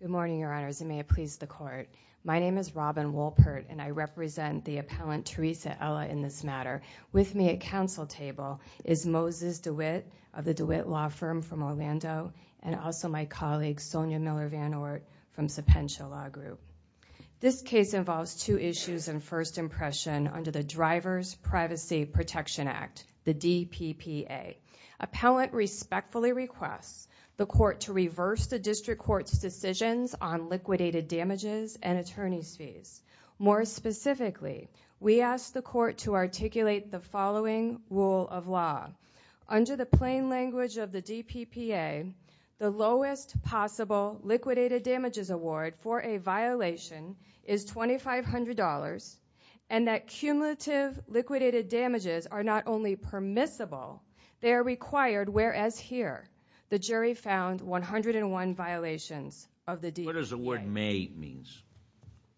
Good morning, Your Honors, and may it please the Court. My name is Robin Wolpert, and I represent the appellant Teresa Ela in this matter. With me at counsel table is Moses DeWitt of the DeWitt Law Firm from Orlando, and also my colleague Sonia Miller-Van Oort from Sapensha Law Group. This case involves two issues and first impression under the Driver's Privacy Protection Act, the DPPA. Appellant respectfully requests the Court to reverse the District Court's decisions on liquidated damages and attorney's fees. More specifically, we ask the Court to articulate the following rule of law. Under the plain language of the DPPA, the lowest possible liquidated damages award for a violation is $2,500, and that cumulative liquidated damages are not only permissible, they are required, whereas here, the jury found 101 violations of the DPPA. What does the word may mean?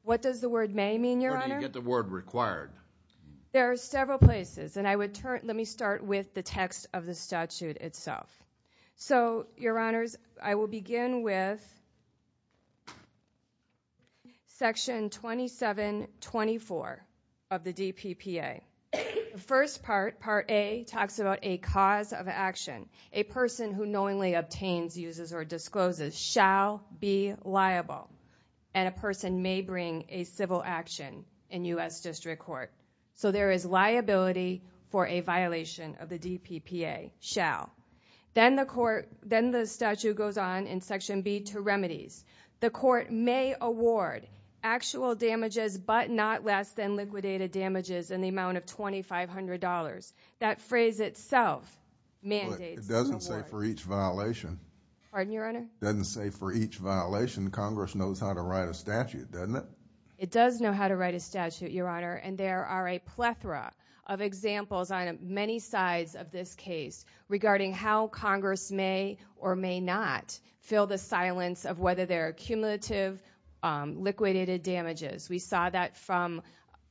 What does the word may mean, Your Honor? Where do you get the word required? There are several places, and I would turn, let me start with the text of the statute itself. So, Your Honors, I will begin with section 2724 of the DPPA. The first part, part A, talks about a cause of action. A person who knowingly obtains, uses, or discloses shall be liable, and a person may bring a civil action in U.S. District Court. So there is liability for a violation of the DPPA, shall. Then the statute goes on in section B to remedies. The court may award actual damages but not less than liquidated damages in the amount of $2,500. That phrase itself mandates an award. It doesn't say for each violation. Pardon, Your Honor? It doesn't say for each violation. Congress knows how to write a statute, doesn't it? It does know how to write a statute, Your Honor, and there are a plethora of examples on many sides of this case regarding how Congress may or may not fill the silence of whether there are cumulative liquidated damages. We saw that from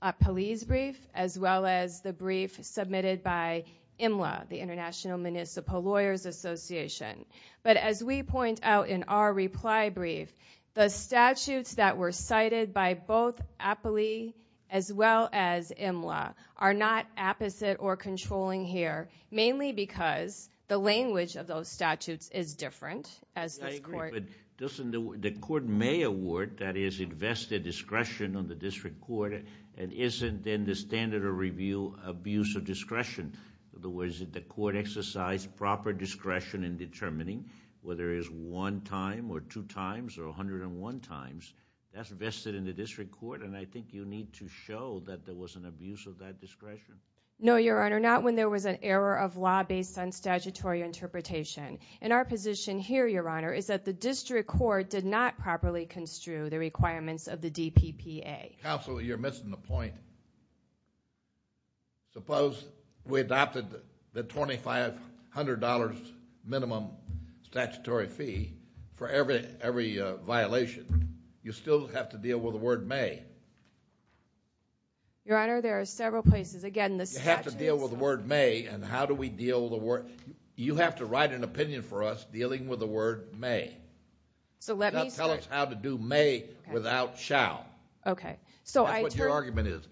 a police brief, as well as the brief submitted by IMLA, the International Municipal Lawyers Association. But as we point out in our reply brief, the statutes that were cited by both Appley as well as IMLA are not apposite or controlling here, mainly because the language of those statutes is different, as this court- No, Your Honor, not when there was an error of law based on statutory interpretation. In our position here, Your Honor, is that the district court did not properly construe the requirements of the DPPA. Counsel, you're missing the point. Suppose we adopted the $2,500 minimum statutory fee for every violation. You still have to deal with the word may. Your Honor, there are several places. Again, the statute- You have to deal with the word may, and how do we deal with the word- You have to write an opinion for us dealing with the word may. So let me- Tell us how to do may without shall. That's what your argument is.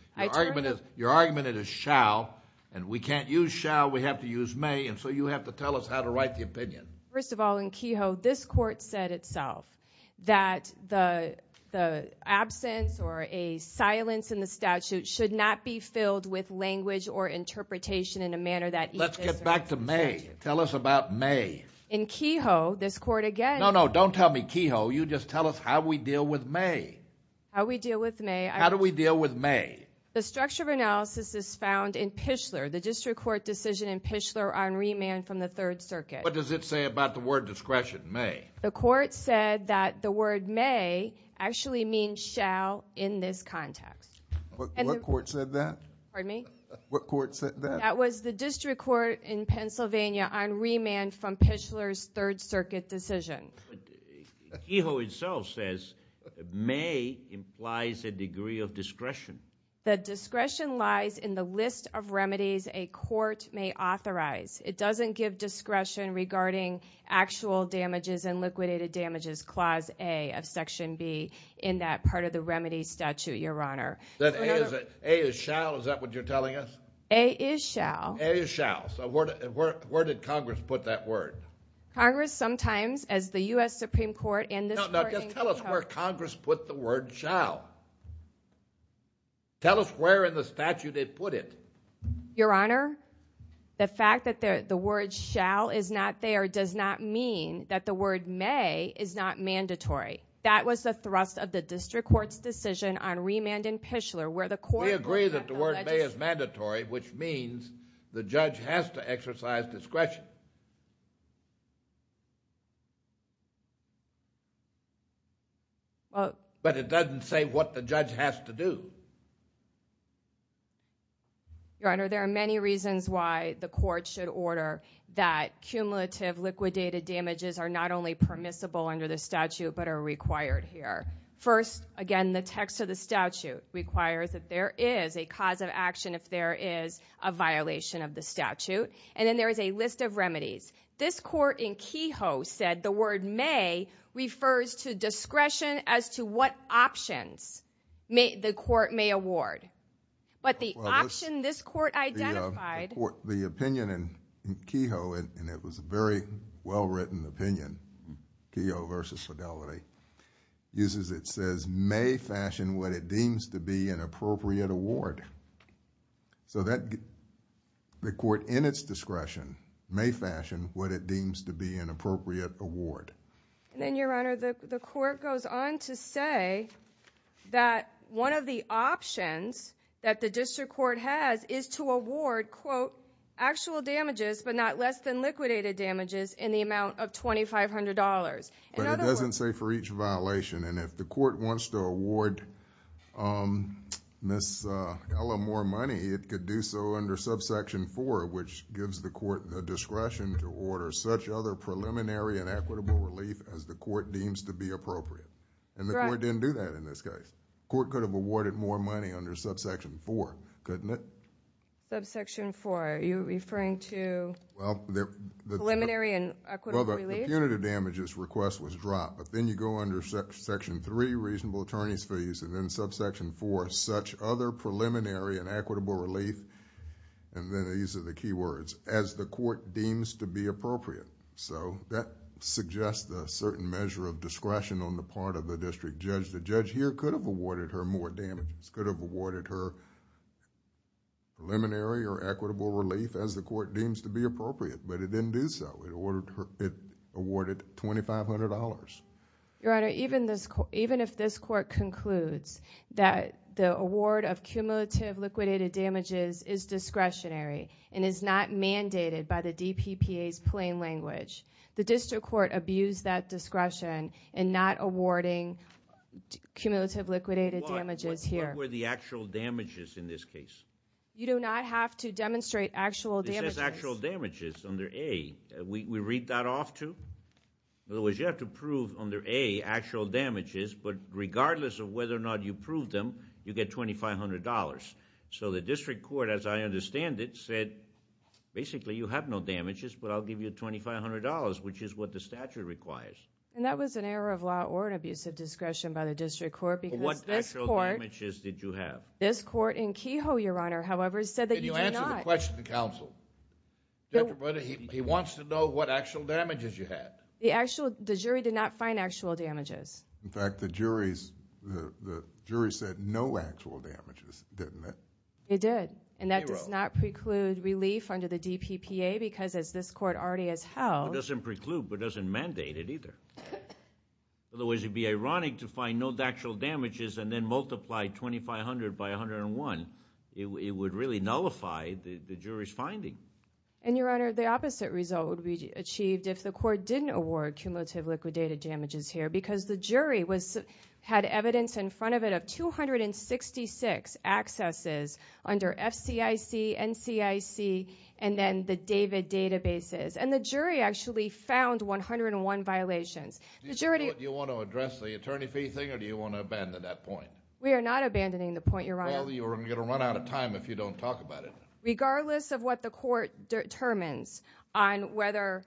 Your argument is shall, and we can't use shall. We have to use may, and so you have to tell us how to write the opinion. First of all, in Kehoe, this court said itself that the absence or a silence in the statute should not be filled with language or interpretation in a manner that- Let's get back to may. Tell us about may. In Kehoe, this court again- No, no, don't tell me Kehoe. You just tell us how we deal with may. How we deal with may- How do we deal with may? The structure of analysis is found in Pichler, the district court decision in Pichler on remand from the Third Circuit. What does it say about the word discretion, may? The court said that the word may actually means shall in this context. What court said that? Pardon me? What court said that? That was the district court in Pennsylvania on remand from Pichler's Third Circuit decision. Kehoe itself says may implies a degree of discretion. The discretion lies in the list of remedies a court may authorize. It doesn't give discretion regarding actual damages and liquidated damages, Clause A of Section B in that part of the remedy statute, Your Honor. That A is shall? Is that what you're telling us? A is shall. A is shall. So where did Congress put that word? Congress sometimes, as the U.S. Supreme Court- No, just tell us where Congress put the word shall. Tell us where in the statute they put it. Your Honor, the fact that the word shall is not there does not mean that the word may is not mandatory. That was the thrust of the district court's decision on remand in Pichler where the court- We agree that the word may is mandatory, which means the judge has to exercise discretion. But it doesn't say what the judge has to do. Your Honor, there are many reasons why the court should order that cumulative liquidated damages are not only permissible under the statute but are required here. First, again, the text of the statute requires that there is a cause of action if there is a violation of the statute. And then there is a list of remedies. This court in Kehoe said the word may refers to discretion as to what options the court may award. But the option this court identified- The opinion in Kehoe, and it was a very well-written opinion, Kehoe v. Fidelity, uses it says, may fashion what it deems to be an appropriate award. So the court in its discretion may fashion what it deems to be an appropriate award. And then, Your Honor, the court goes on to say that one of the options that the district court has is to award, quote, actual damages but not less than liquidated damages in the amount of $2,500. In other words- But it doesn't say for each violation. And if the court wants to award Ms. Ella more money, it could do so under subsection 4, which gives the court the discretion to order such other preliminary and equitable relief as the court deems to be appropriate. And the court didn't do that in this case. The court could have awarded more money under subsection 4, couldn't it? Subsection 4, are you referring to preliminary and equitable relief? Well, the punitive damages request was dropped, but then you go under section 3, reasonable attorney's fees, and then subsection 4, such other preliminary and equitable relief, and then these are the key words, as the court deems to be appropriate. So that suggests a certain measure of discretion on the part of the district judge. The judge here could have awarded her more damages, could have awarded her preliminary or equitable relief as the court deems to be appropriate, but it didn't do so. It awarded $2,500. Your Honor, even if this court concludes that the award of cumulative liquidated damages is discretionary and is not mandated by the DPPA's plain language, the district court abused that discretion in not awarding cumulative liquidated damages here. What were the actual damages in this case? You do not have to demonstrate actual damages. It says actual damages under A. We read that off, too? In other words, you have to prove under A actual damages, but regardless of whether or not you prove them, you get $2,500. So the district court, as I understand it, said basically you have no damages, but I'll give you $2,500, which is what the statute requires. And that was an error of law or an abuse of discretion by the district court, because this court... What actual damages did you have? This court in Kehoe, Your Honor, however, said that you did not... Answer the question to counsel. He wants to know what actual damages you had. The jury did not find actual damages. In fact, the jury said no actual damages, didn't it? It did, and that does not preclude relief under the DPPA, because as this court already has held... It doesn't preclude, but it doesn't mandate it either. Otherwise, it would be ironic to find no actual damages and then multiply 2,500 by 101. It would really nullify the jury's finding. And, Your Honor, the opposite result would be achieved if the court didn't award cumulative liquidated damages here, because the jury had evidence in front of it of 266 accesses under FCIC, NCIC, and then the David databases. And the jury actually found 101 violations. Do you want to address the attorney fee thing, or do you want to abandon that point? We are not abandoning the point, Your Honor. You're going to run out of time if you don't talk about it. Regardless of what the court determines on whether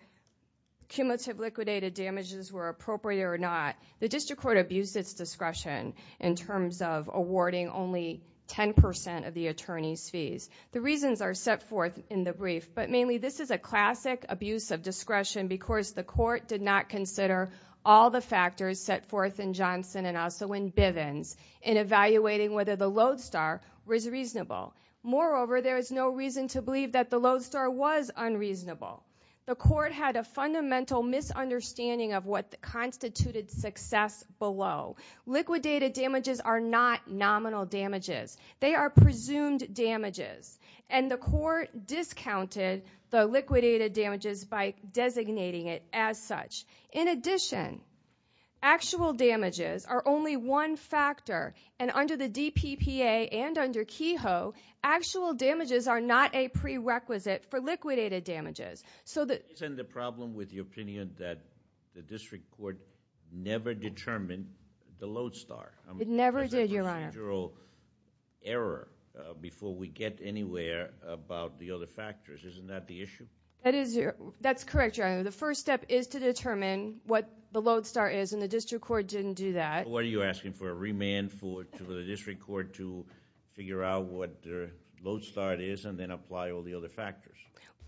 cumulative liquidated damages were appropriate or not, the district court abused its discretion in terms of awarding only 10% of the attorney's fees. The reasons are set forth in the brief, but mainly this is a classic abuse of discretion because the court did not consider all the factors set forth in Johnson and also in Bivens in evaluating whether the lodestar was reasonable. Moreover, there is no reason to believe that the lodestar was unreasonable. The court had a fundamental misunderstanding of what constituted success below. Liquidated damages are not nominal damages. They are presumed damages. And the court discounted the liquidated damages by designating it as such. In addition, actual damages are only one factor. And under the DPPA and under Kehoe, actual damages are not a prerequisite for liquidated damages. Isn't the problem with your opinion that the district court never determined the lodestar? It never did, Your Honor. There's a procedural error before we get anywhere about the other factors. Isn't that the issue? That's correct, Your Honor. The first step is to determine what the lodestar is and the district court didn't do that. What are you asking for, a remand for the district court to figure out what the lodestar is and then apply all the other factors?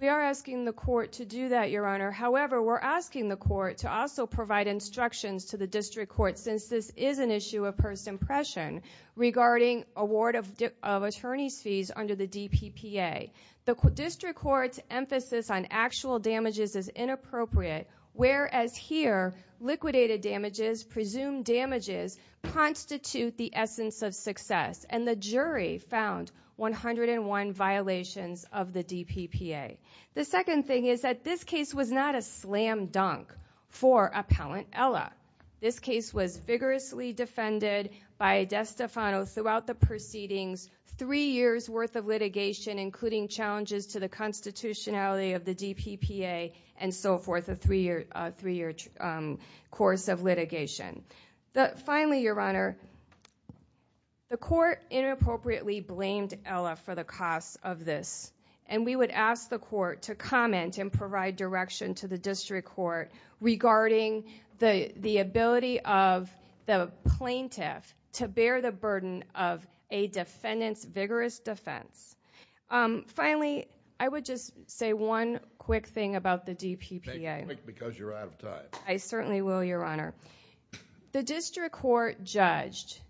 We are asking the court to do that, Your Honor. However, we're asking the court to also provide instructions to the district court since this is an issue of first impression regarding award of attorney's fees under the DPPA. The district court's emphasis on actual damages is inappropriate, whereas here, liquidated damages, presumed damages constitute the essence of success. And the jury found 101 violations of the DPPA. The second thing is that this case was not a slam dunk for Appellant Ella. This case was vigorously defended by DeStefano throughout the proceedings, three years worth of litigation, including challenges to the constitutionality of the DPPA, and so forth, a three-year course of litigation. Finally, Your Honor, the court inappropriately blamed Ella for the cost of this, and we would ask the court to comment and provide direction to the district court regarding the ability of the plaintiff to bear the burden of a defendant's vigorous defense. Finally, I would just say one quick thing about the DPPA. Make it quick because you're out of time. I certainly will, Your Honor. The district court judged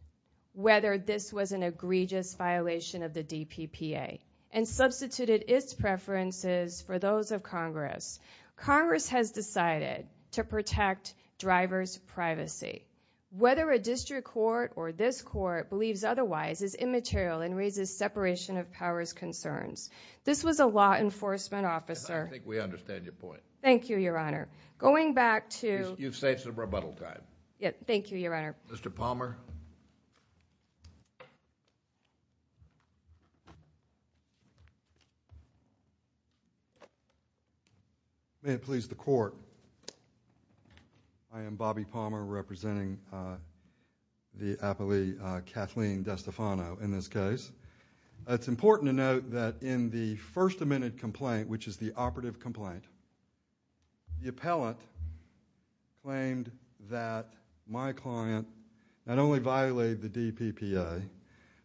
whether this was an egregious violation of the DPPA and substituted its preferences for those of Congress. Congress has decided to protect driver's privacy. Whether a district court or this court believes otherwise is immaterial and raises separation of powers concerns. This was a law enforcement officer. I think we understand your point. Thank you, Your Honor. Going back to... You've saved some rebuttal time. Thank you, Your Honor. Mr. Palmer? May it please the court. I am Bobby Palmer representing the appellee Kathleen DeStefano. In this case, it's important to note that in the first amended complaint, which is the operative complaint, the appellant claimed that my client not only violated the DPPA,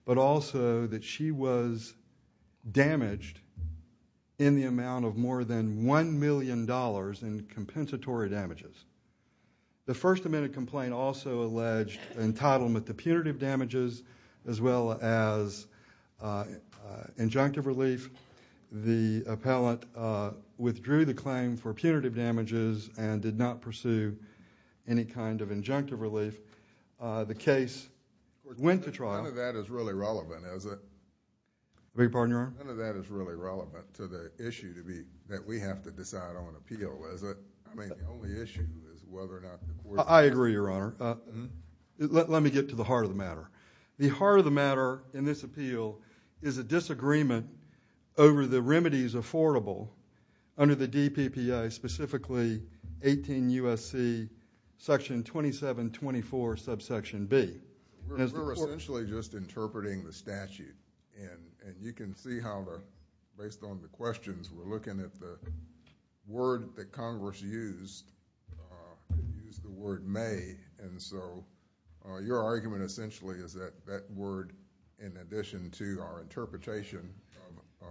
but also that she was damaged in the amount of more than $1 million in compensatory damages. The first amended complaint also alleged entitlement to punitive damages as well as injunctive relief. The appellant withdrew the claim for punitive damages and did not pursue any kind of injunctive relief. The case went to trial. None of that is really relevant, is it? I beg your pardon, Your Honor? None of that is really relevant to the issue that we have to decide on appeal, is it? I mean, the only issue is whether or not the court... I agree, Your Honor. Let me get to the heart of the matter. The heart of the matter in this appeal is a disagreement over the remedies affordable under the DPPA, specifically 18 U.S.C. section 2724, subsection B. We're essentially just interpreting the statute, and you can see how, based on the questions, we're looking at the word that Congress used, used the word may, and so your argument essentially is that that word, in addition to our interpretation of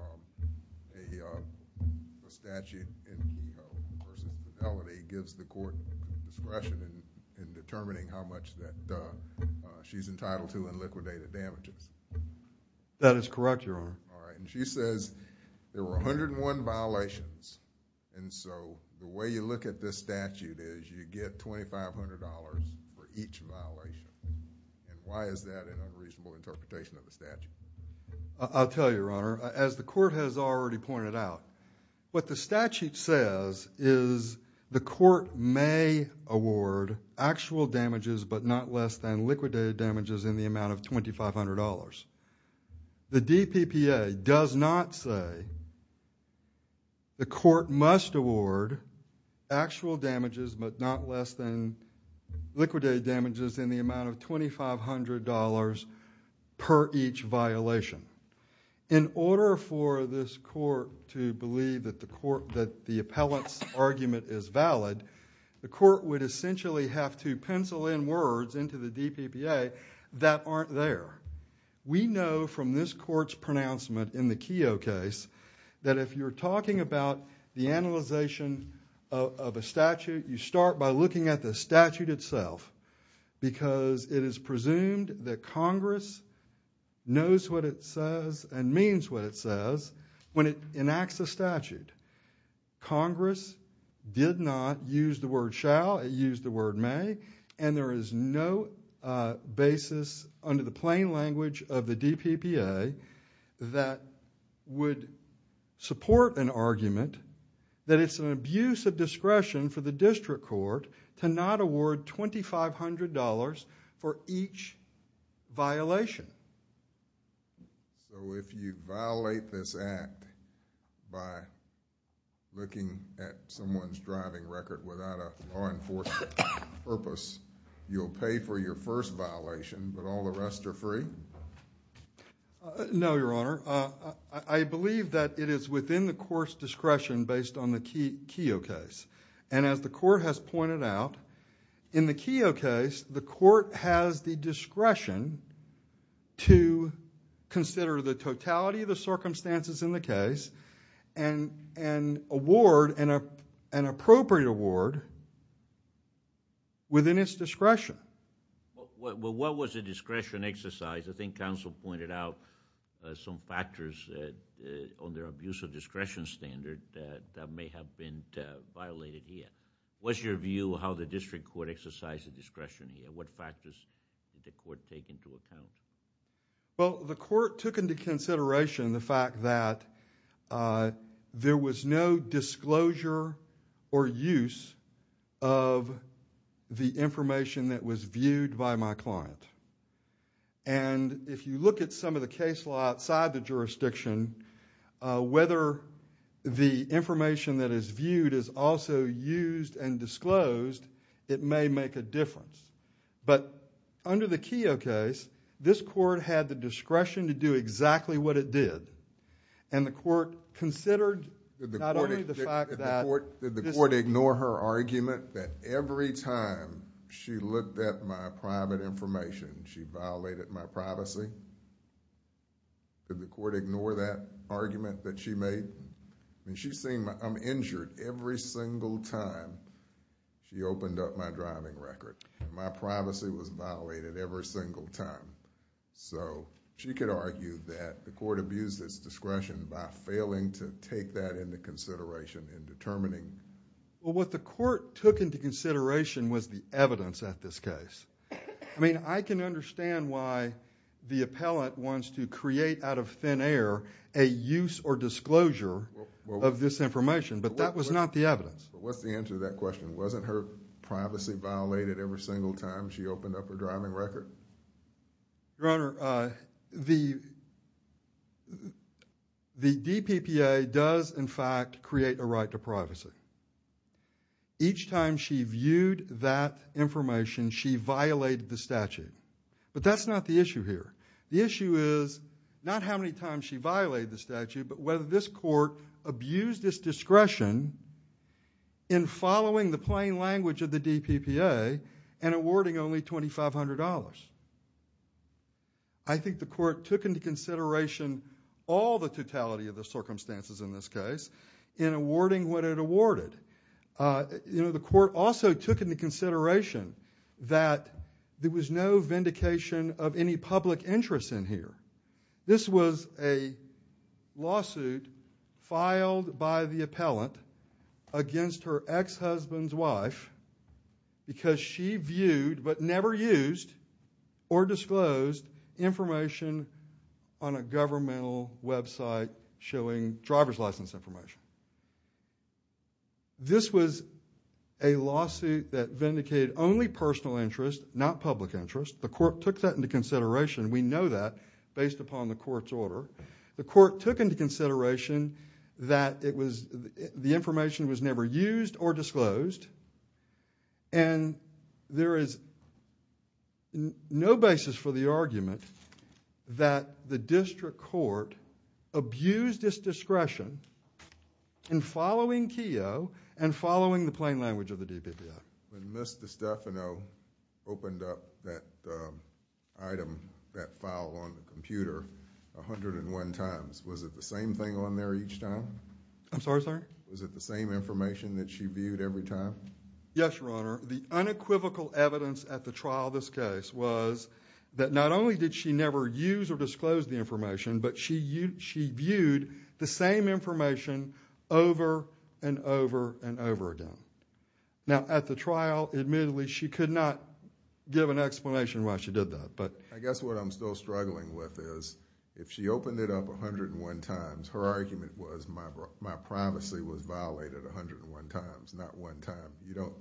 a statute in Kehoe versus fidelity, gives the court discretion in determining how much that she's entitled to in liquidated damages. That is correct, Your Honor. All right, and she says there were 101 violations, and so the way you look at this statute is you get $2,500 for each violation, and why is that an unreasonable interpretation of the statute? I'll tell you, Your Honor. As the court has already pointed out, what the statute says is the court may award actual damages, but not less than liquidated damages in the amount of $2,500. The DPPA does not say the court must award actual damages, but not less than liquidated damages in the amount of $2,500 per each violation. In order for this court to believe that the appellant's argument is valid, the court would essentially have to pencil in words into the DPPA that aren't there. We know from this court's pronouncement in the Kehoe case that if you're talking about the analyzation of a statute, you start by looking at the statute itself, because it is presumed that Congress knows what it says and means what it says when it enacts a statute. Congress did not use the word shall, it used the word may, and there is no basis under the plain language of the DPPA that would support an argument that it's an abuse of discretion for the district court to not award $2,500 for each violation. So if you violate this act by looking at someone's driving record without a law enforcement purpose, you'll pay for your first violation, but all the rest are free? No, Your Honor. I believe that it is within the court's discretion based on the Kehoe case. And as the court has pointed out, in the Kehoe case, the court has the discretion to consider the totality of the circumstances in the case and award an appropriate award within its discretion. Well, what was the discretion exercised? I think counsel pointed out some factors on their abuse of discretion standard that may have been violated here. What's your view of how the district court exercised the discretion here? What factors did the court take into account? Well, the court took into consideration the fact that there was no disclosure or use of the information that was viewed by my client. And if you look at some of the case law outside the jurisdiction, whether the information that is viewed is also used and disclosed, it may make a difference. But under the Kehoe case, this court had the discretion to do exactly what it did. And the court considered not only the fact that... Did the court ignore her argument that every time she looked at my private information, she violated my privacy? Did the court ignore that argument that she made? She's saying I'm injured every single time she opened up my driving record. My privacy was violated every single time. So, she could argue that the court abused its discretion by failing to take that into consideration in determining... Well, what the court took into consideration was the evidence at this case. I mean, I can understand why the appellant wants to create out of thin air a use or disclosure of this information, but that was not the evidence. But what's the answer to that question? Wasn't her privacy violated every single time she opened up her driving record? Your Honor, the DPPA does, in fact, create a right to privacy. Each time she viewed that information, she violated the statute. But that's not the issue here. The issue is not how many times she violated the statute, but whether this court abused its discretion in following the plain language of the DPPA and awarding only $2,500. I think the court took into consideration all the totality of the circumstances in this case in awarding what it awarded. The court also took into consideration that there was no vindication of any public interest in here. This was a lawsuit filed by the appellant against her ex-husband's wife because she viewed but never used or disclosed information on a governmental website showing driver's license information. This was a lawsuit that vindicated only personal interest, not public interest. The court took that into consideration. We know that based upon the court's order. The court took into consideration that the information was never used or disclosed. And there is no basis for the argument that the district court abused its discretion in following Keogh and following the plain language of the DPPA. When Ms. DiStefano opened up that item, that file on the computer 101 times, was it the same thing on there each time? I'm sorry, sir? Was it the same information that she viewed every time? Yes, Your Honor. The unequivocal evidence at the trial of this case was that not only did she never use or disclose the information, but she viewed the same information over and over and over again. Now, at the trial, admittedly, she could not give an explanation why she did that. I guess what I'm still struggling with is, if she opened it up 101 times, her argument was my privacy was violated 101 times, not one time. You don't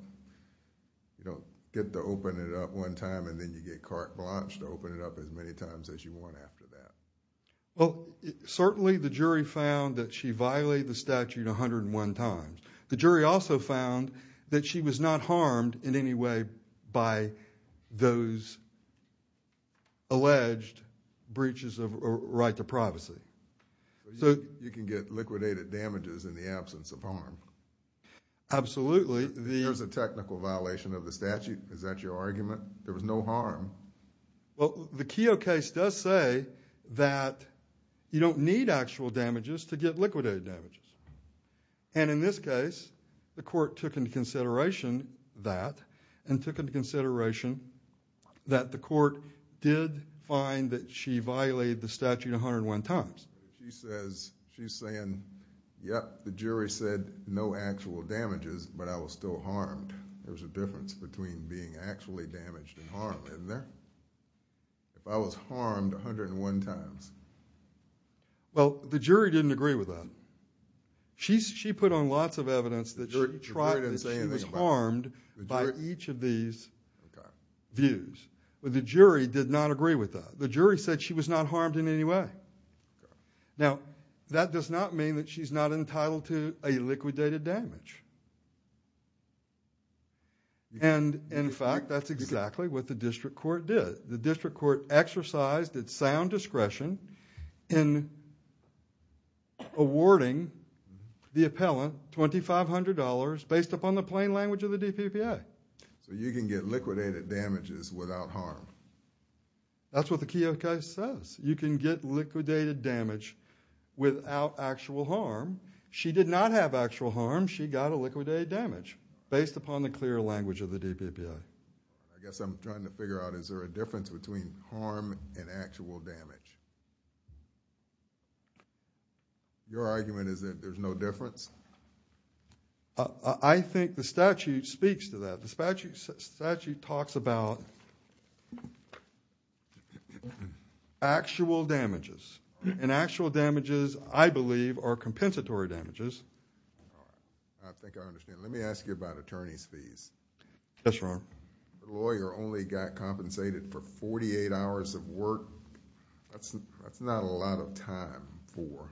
get to open it up one time and then you get carte blanche to open it up as many times as you want after that. Certainly, the jury found that she violated the statute 101 times. The jury also found that she was not harmed in any way by those alleged breaches of right to privacy. You can get liquidated damages in the absence of harm? Absolutely. There was a technical violation of the statute? Is that your argument? There was no harm? The Keogh case does say that you don't need actual damages to get liquidated damages. In this case, the court took into consideration that and took into consideration that the court did find that she violated the statute 101 times. She's saying, yep, the jury said no actual damages, but I was still harmed. There's a difference between being actually damaged and harmed, isn't there? If I was harmed 101 times. Well, the jury didn't agree with that. She put on lots of evidence that she was harmed by each of these views. The jury did not agree with that. The jury said she was not harmed in any way. Now, that does not mean that she's not entitled to a liquidated damage. In fact, that's exactly what the district court did. The district court exercised its sound discretion in awarding the appellant $2,500 based upon the plain language of the DPPA. So you can get liquidated damages without harm? That's what the Keogh case says. You can get liquidated damage without actual harm. She did not have actual harm. She got a liquidated damage based upon the clear language of the DPPA. I guess I'm trying to figure out, is there a difference between harm and actual damage? Your argument is that there's no difference? I think the statute speaks to that. The statute talks about actual damages. And actual damages, I believe, are compensatory damages. I think I understand. Yes, Your Honor. The lawyer only got compensated for 48 hours of work. That's not a lot of time for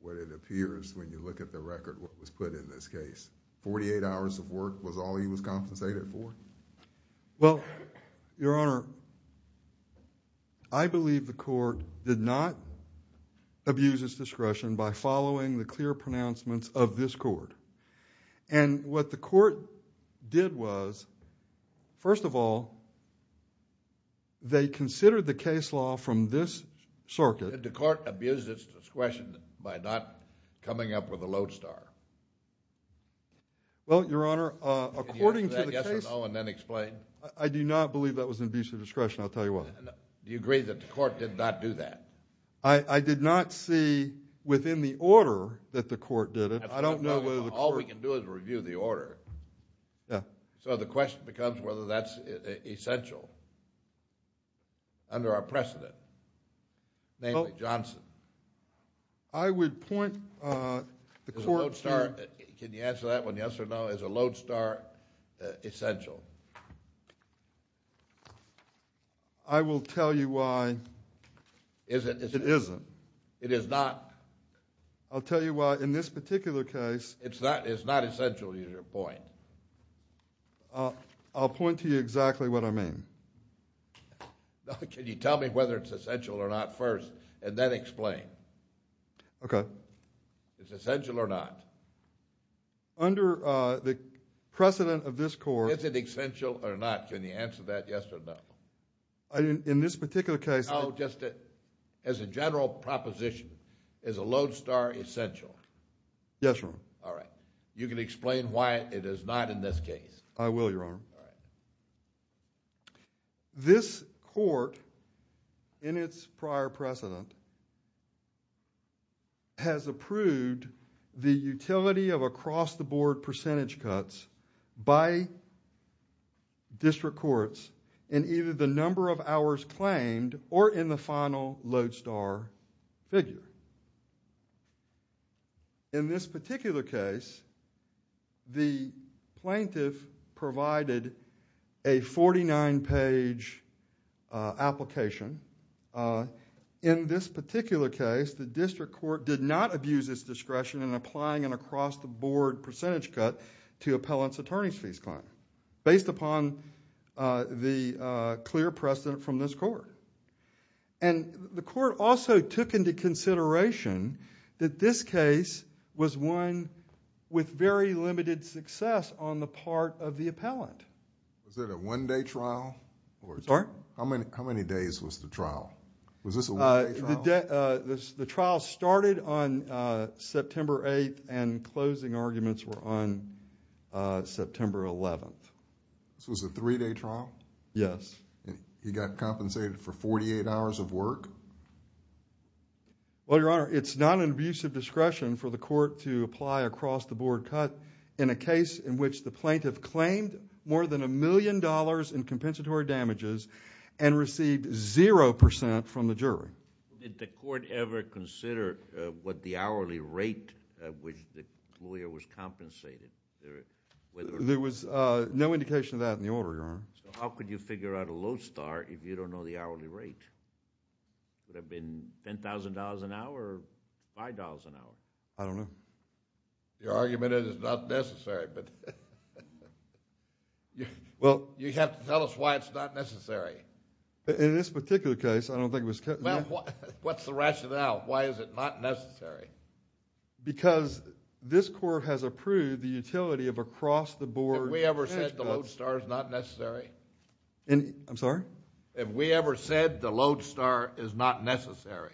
what it appears when you look at the record, what was put in this case. 48 hours of work was all he was compensated for? Well, Your Honor, I believe the court did not abuse its discretion by following the clear pronouncements of this court. And what the court did was, first of all, they considered the case law from this circuit. Did the court abuse its discretion by not coming up with a lodestar? Well, Your Honor, according to the case law... Can you answer that yes or no and then explain? I do not believe that was an abuse of discretion. I'll tell you what. Do you agree that the court did not do that? I did not see within the order that the court did it. I don't know whether the court... All we can do is review the order. Yeah. So the question becomes whether that's essential under our precedent, namely Johnson. I would point the court to... Is a lodestar... Can you answer that one yes or no? Is a lodestar essential? I will tell you why... Is it? It isn't. It is not? I'll tell you why. In this particular case... It's not essential is your point? I'll point to you exactly what I mean. Can you tell me whether it's essential or not first and then explain? Okay. It's essential or not? Under the precedent of this court... Is it essential or not? Can you answer that yes or no? In this particular case... As a general proposition, is a lodestar essential? Yes, Your Honor. All right. You can explain why it is not in this case. I will, Your Honor. All right. This court, in its prior precedent, has approved the utility of across-the-board percentage cuts by district courts in either the number of hours claimed or in the final lodestar figure. In this particular case, the plaintiff provided a 49-page application. In this particular case, the district court did not abuse its discretion in applying an across-the-board percentage cut to appellant's attorney's fees claim, based upon the clear precedent from this court. The court also took into consideration that this case was one with very limited success on the part of the appellant. Was it a one-day trial? Sorry? Was this a one-day trial? The trial started on September 8th, and closing arguments were on September 11th. This was a three-day trial? Yes. He got compensated for 48 hours of work? Well, Your Honor, it's not an abuse of discretion for the court to apply across-the-board cut in a case in which the plaintiff claimed more than a million dollars in compensatory damages and received 0% from the jury. Did the court ever consider what the hourly rate at which the lawyer was compensated? There was no indication of that in the order, Your Honor. How could you figure out a lodestar if you don't know the hourly rate? Would it have been $10,000 an hour or $5,000 an hour? I don't know. Your argument is not necessary, but you have to tell us why it's not necessary. In this particular case, I don't think it was cut. What's the rationale? Why is it not necessary? Because this court has approved the utility of across-the-board. Have we ever said the lodestar is not necessary? I'm sorry? Have we ever said the lodestar is not necessary?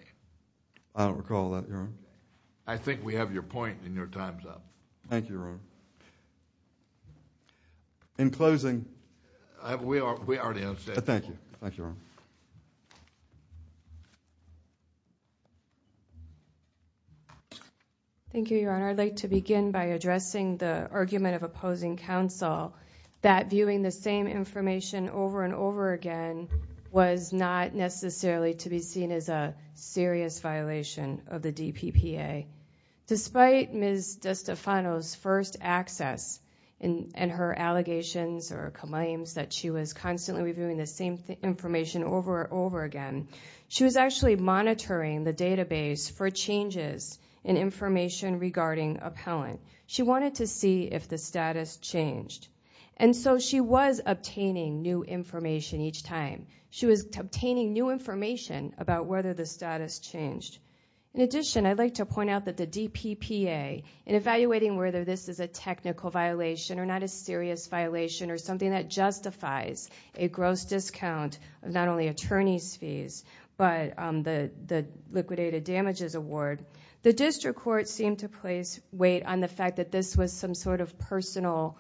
I don't recall that, Your Honor. I think we have your point and your time's up. Thank you, Your Honor. In closing, We already have said that. Thank you. Thank you, Your Honor. Thank you, Your Honor. I'd like to begin by addressing the argument of opposing counsel that viewing the same information over and over again was not necessarily to be seen as a serious violation of the DPPA. Despite Ms. DeStefano's first access and her allegations or claims that she was constantly reviewing the same information over and over again, she was actually monitoring the database for changes in information regarding appellant. She wanted to see if the status changed. And so she was obtaining new information each time. She was obtaining new information about whether the status changed. In addition, I'd like to point out that the DPPA, in evaluating whether this is a technical violation or not a serious violation or something that justifies a gross discount of not only attorney's fees but the liquidated damages award, the district court seemed to place weight on the fact that this was some sort of personal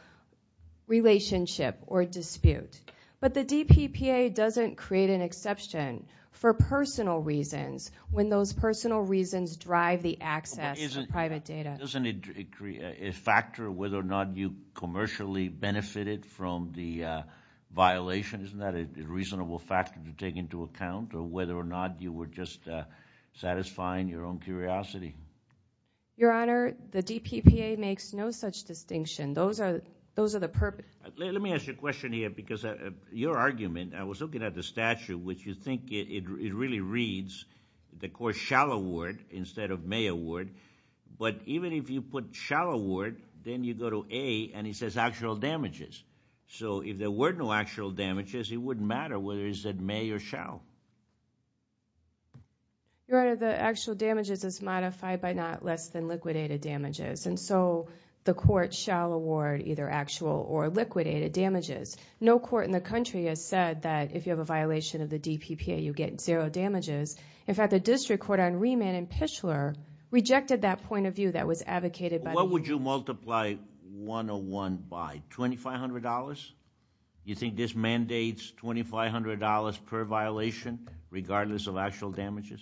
relationship or dispute. But the DPPA doesn't create an exception for personal reasons when those personal reasons drive the access to private data. Doesn't it factor whether or not you commercially benefited from the violation? Isn't that a reasonable factor to take into account or whether or not you were just satisfying your own curiosity? Your Honor, the DPPA makes no such distinction. Those are the purpose. Let me ask you a question here because your argument, I was looking at the statute, which you think it really reads the court shall award instead of may award. But even if you put shall award, then you go to A and it says actual damages. So if there were no actual damages, it wouldn't matter whether it said may or shall. Your Honor, the actual damages is modified by not less than liquidated damages. And so the court shall award either actual or liquidated damages. No court in the country has said that if you have a violation of the DPPA, you get zero damages. In fact, the district court on remand in Pitchler rejected that point of view that was advocated by the court. What would you multiply 101 by, $2,500? You think this mandates $2,500 per violation regardless of actual damages?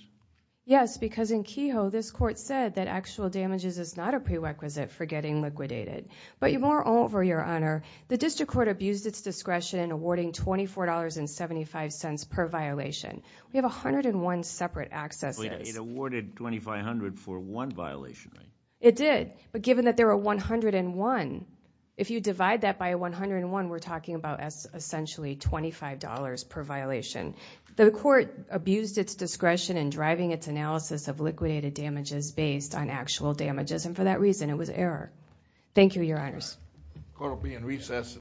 Yes, because in Kehoe, this court said that actual damages is not a prerequisite for getting liquidated. But moreover, Your Honor, the district court abused its discretion in awarding $24.75 per violation. We have 101 separate accesses. It awarded 2,500 for one violation, right? It did. But given that there are 101, if you divide that by 101, we're talking about essentially $25 per violation. The court abused its discretion in driving its analysis of liquidated damages based on actual damages. And for that reason, it was error. Thank you, Your Honors. Court will be in recess.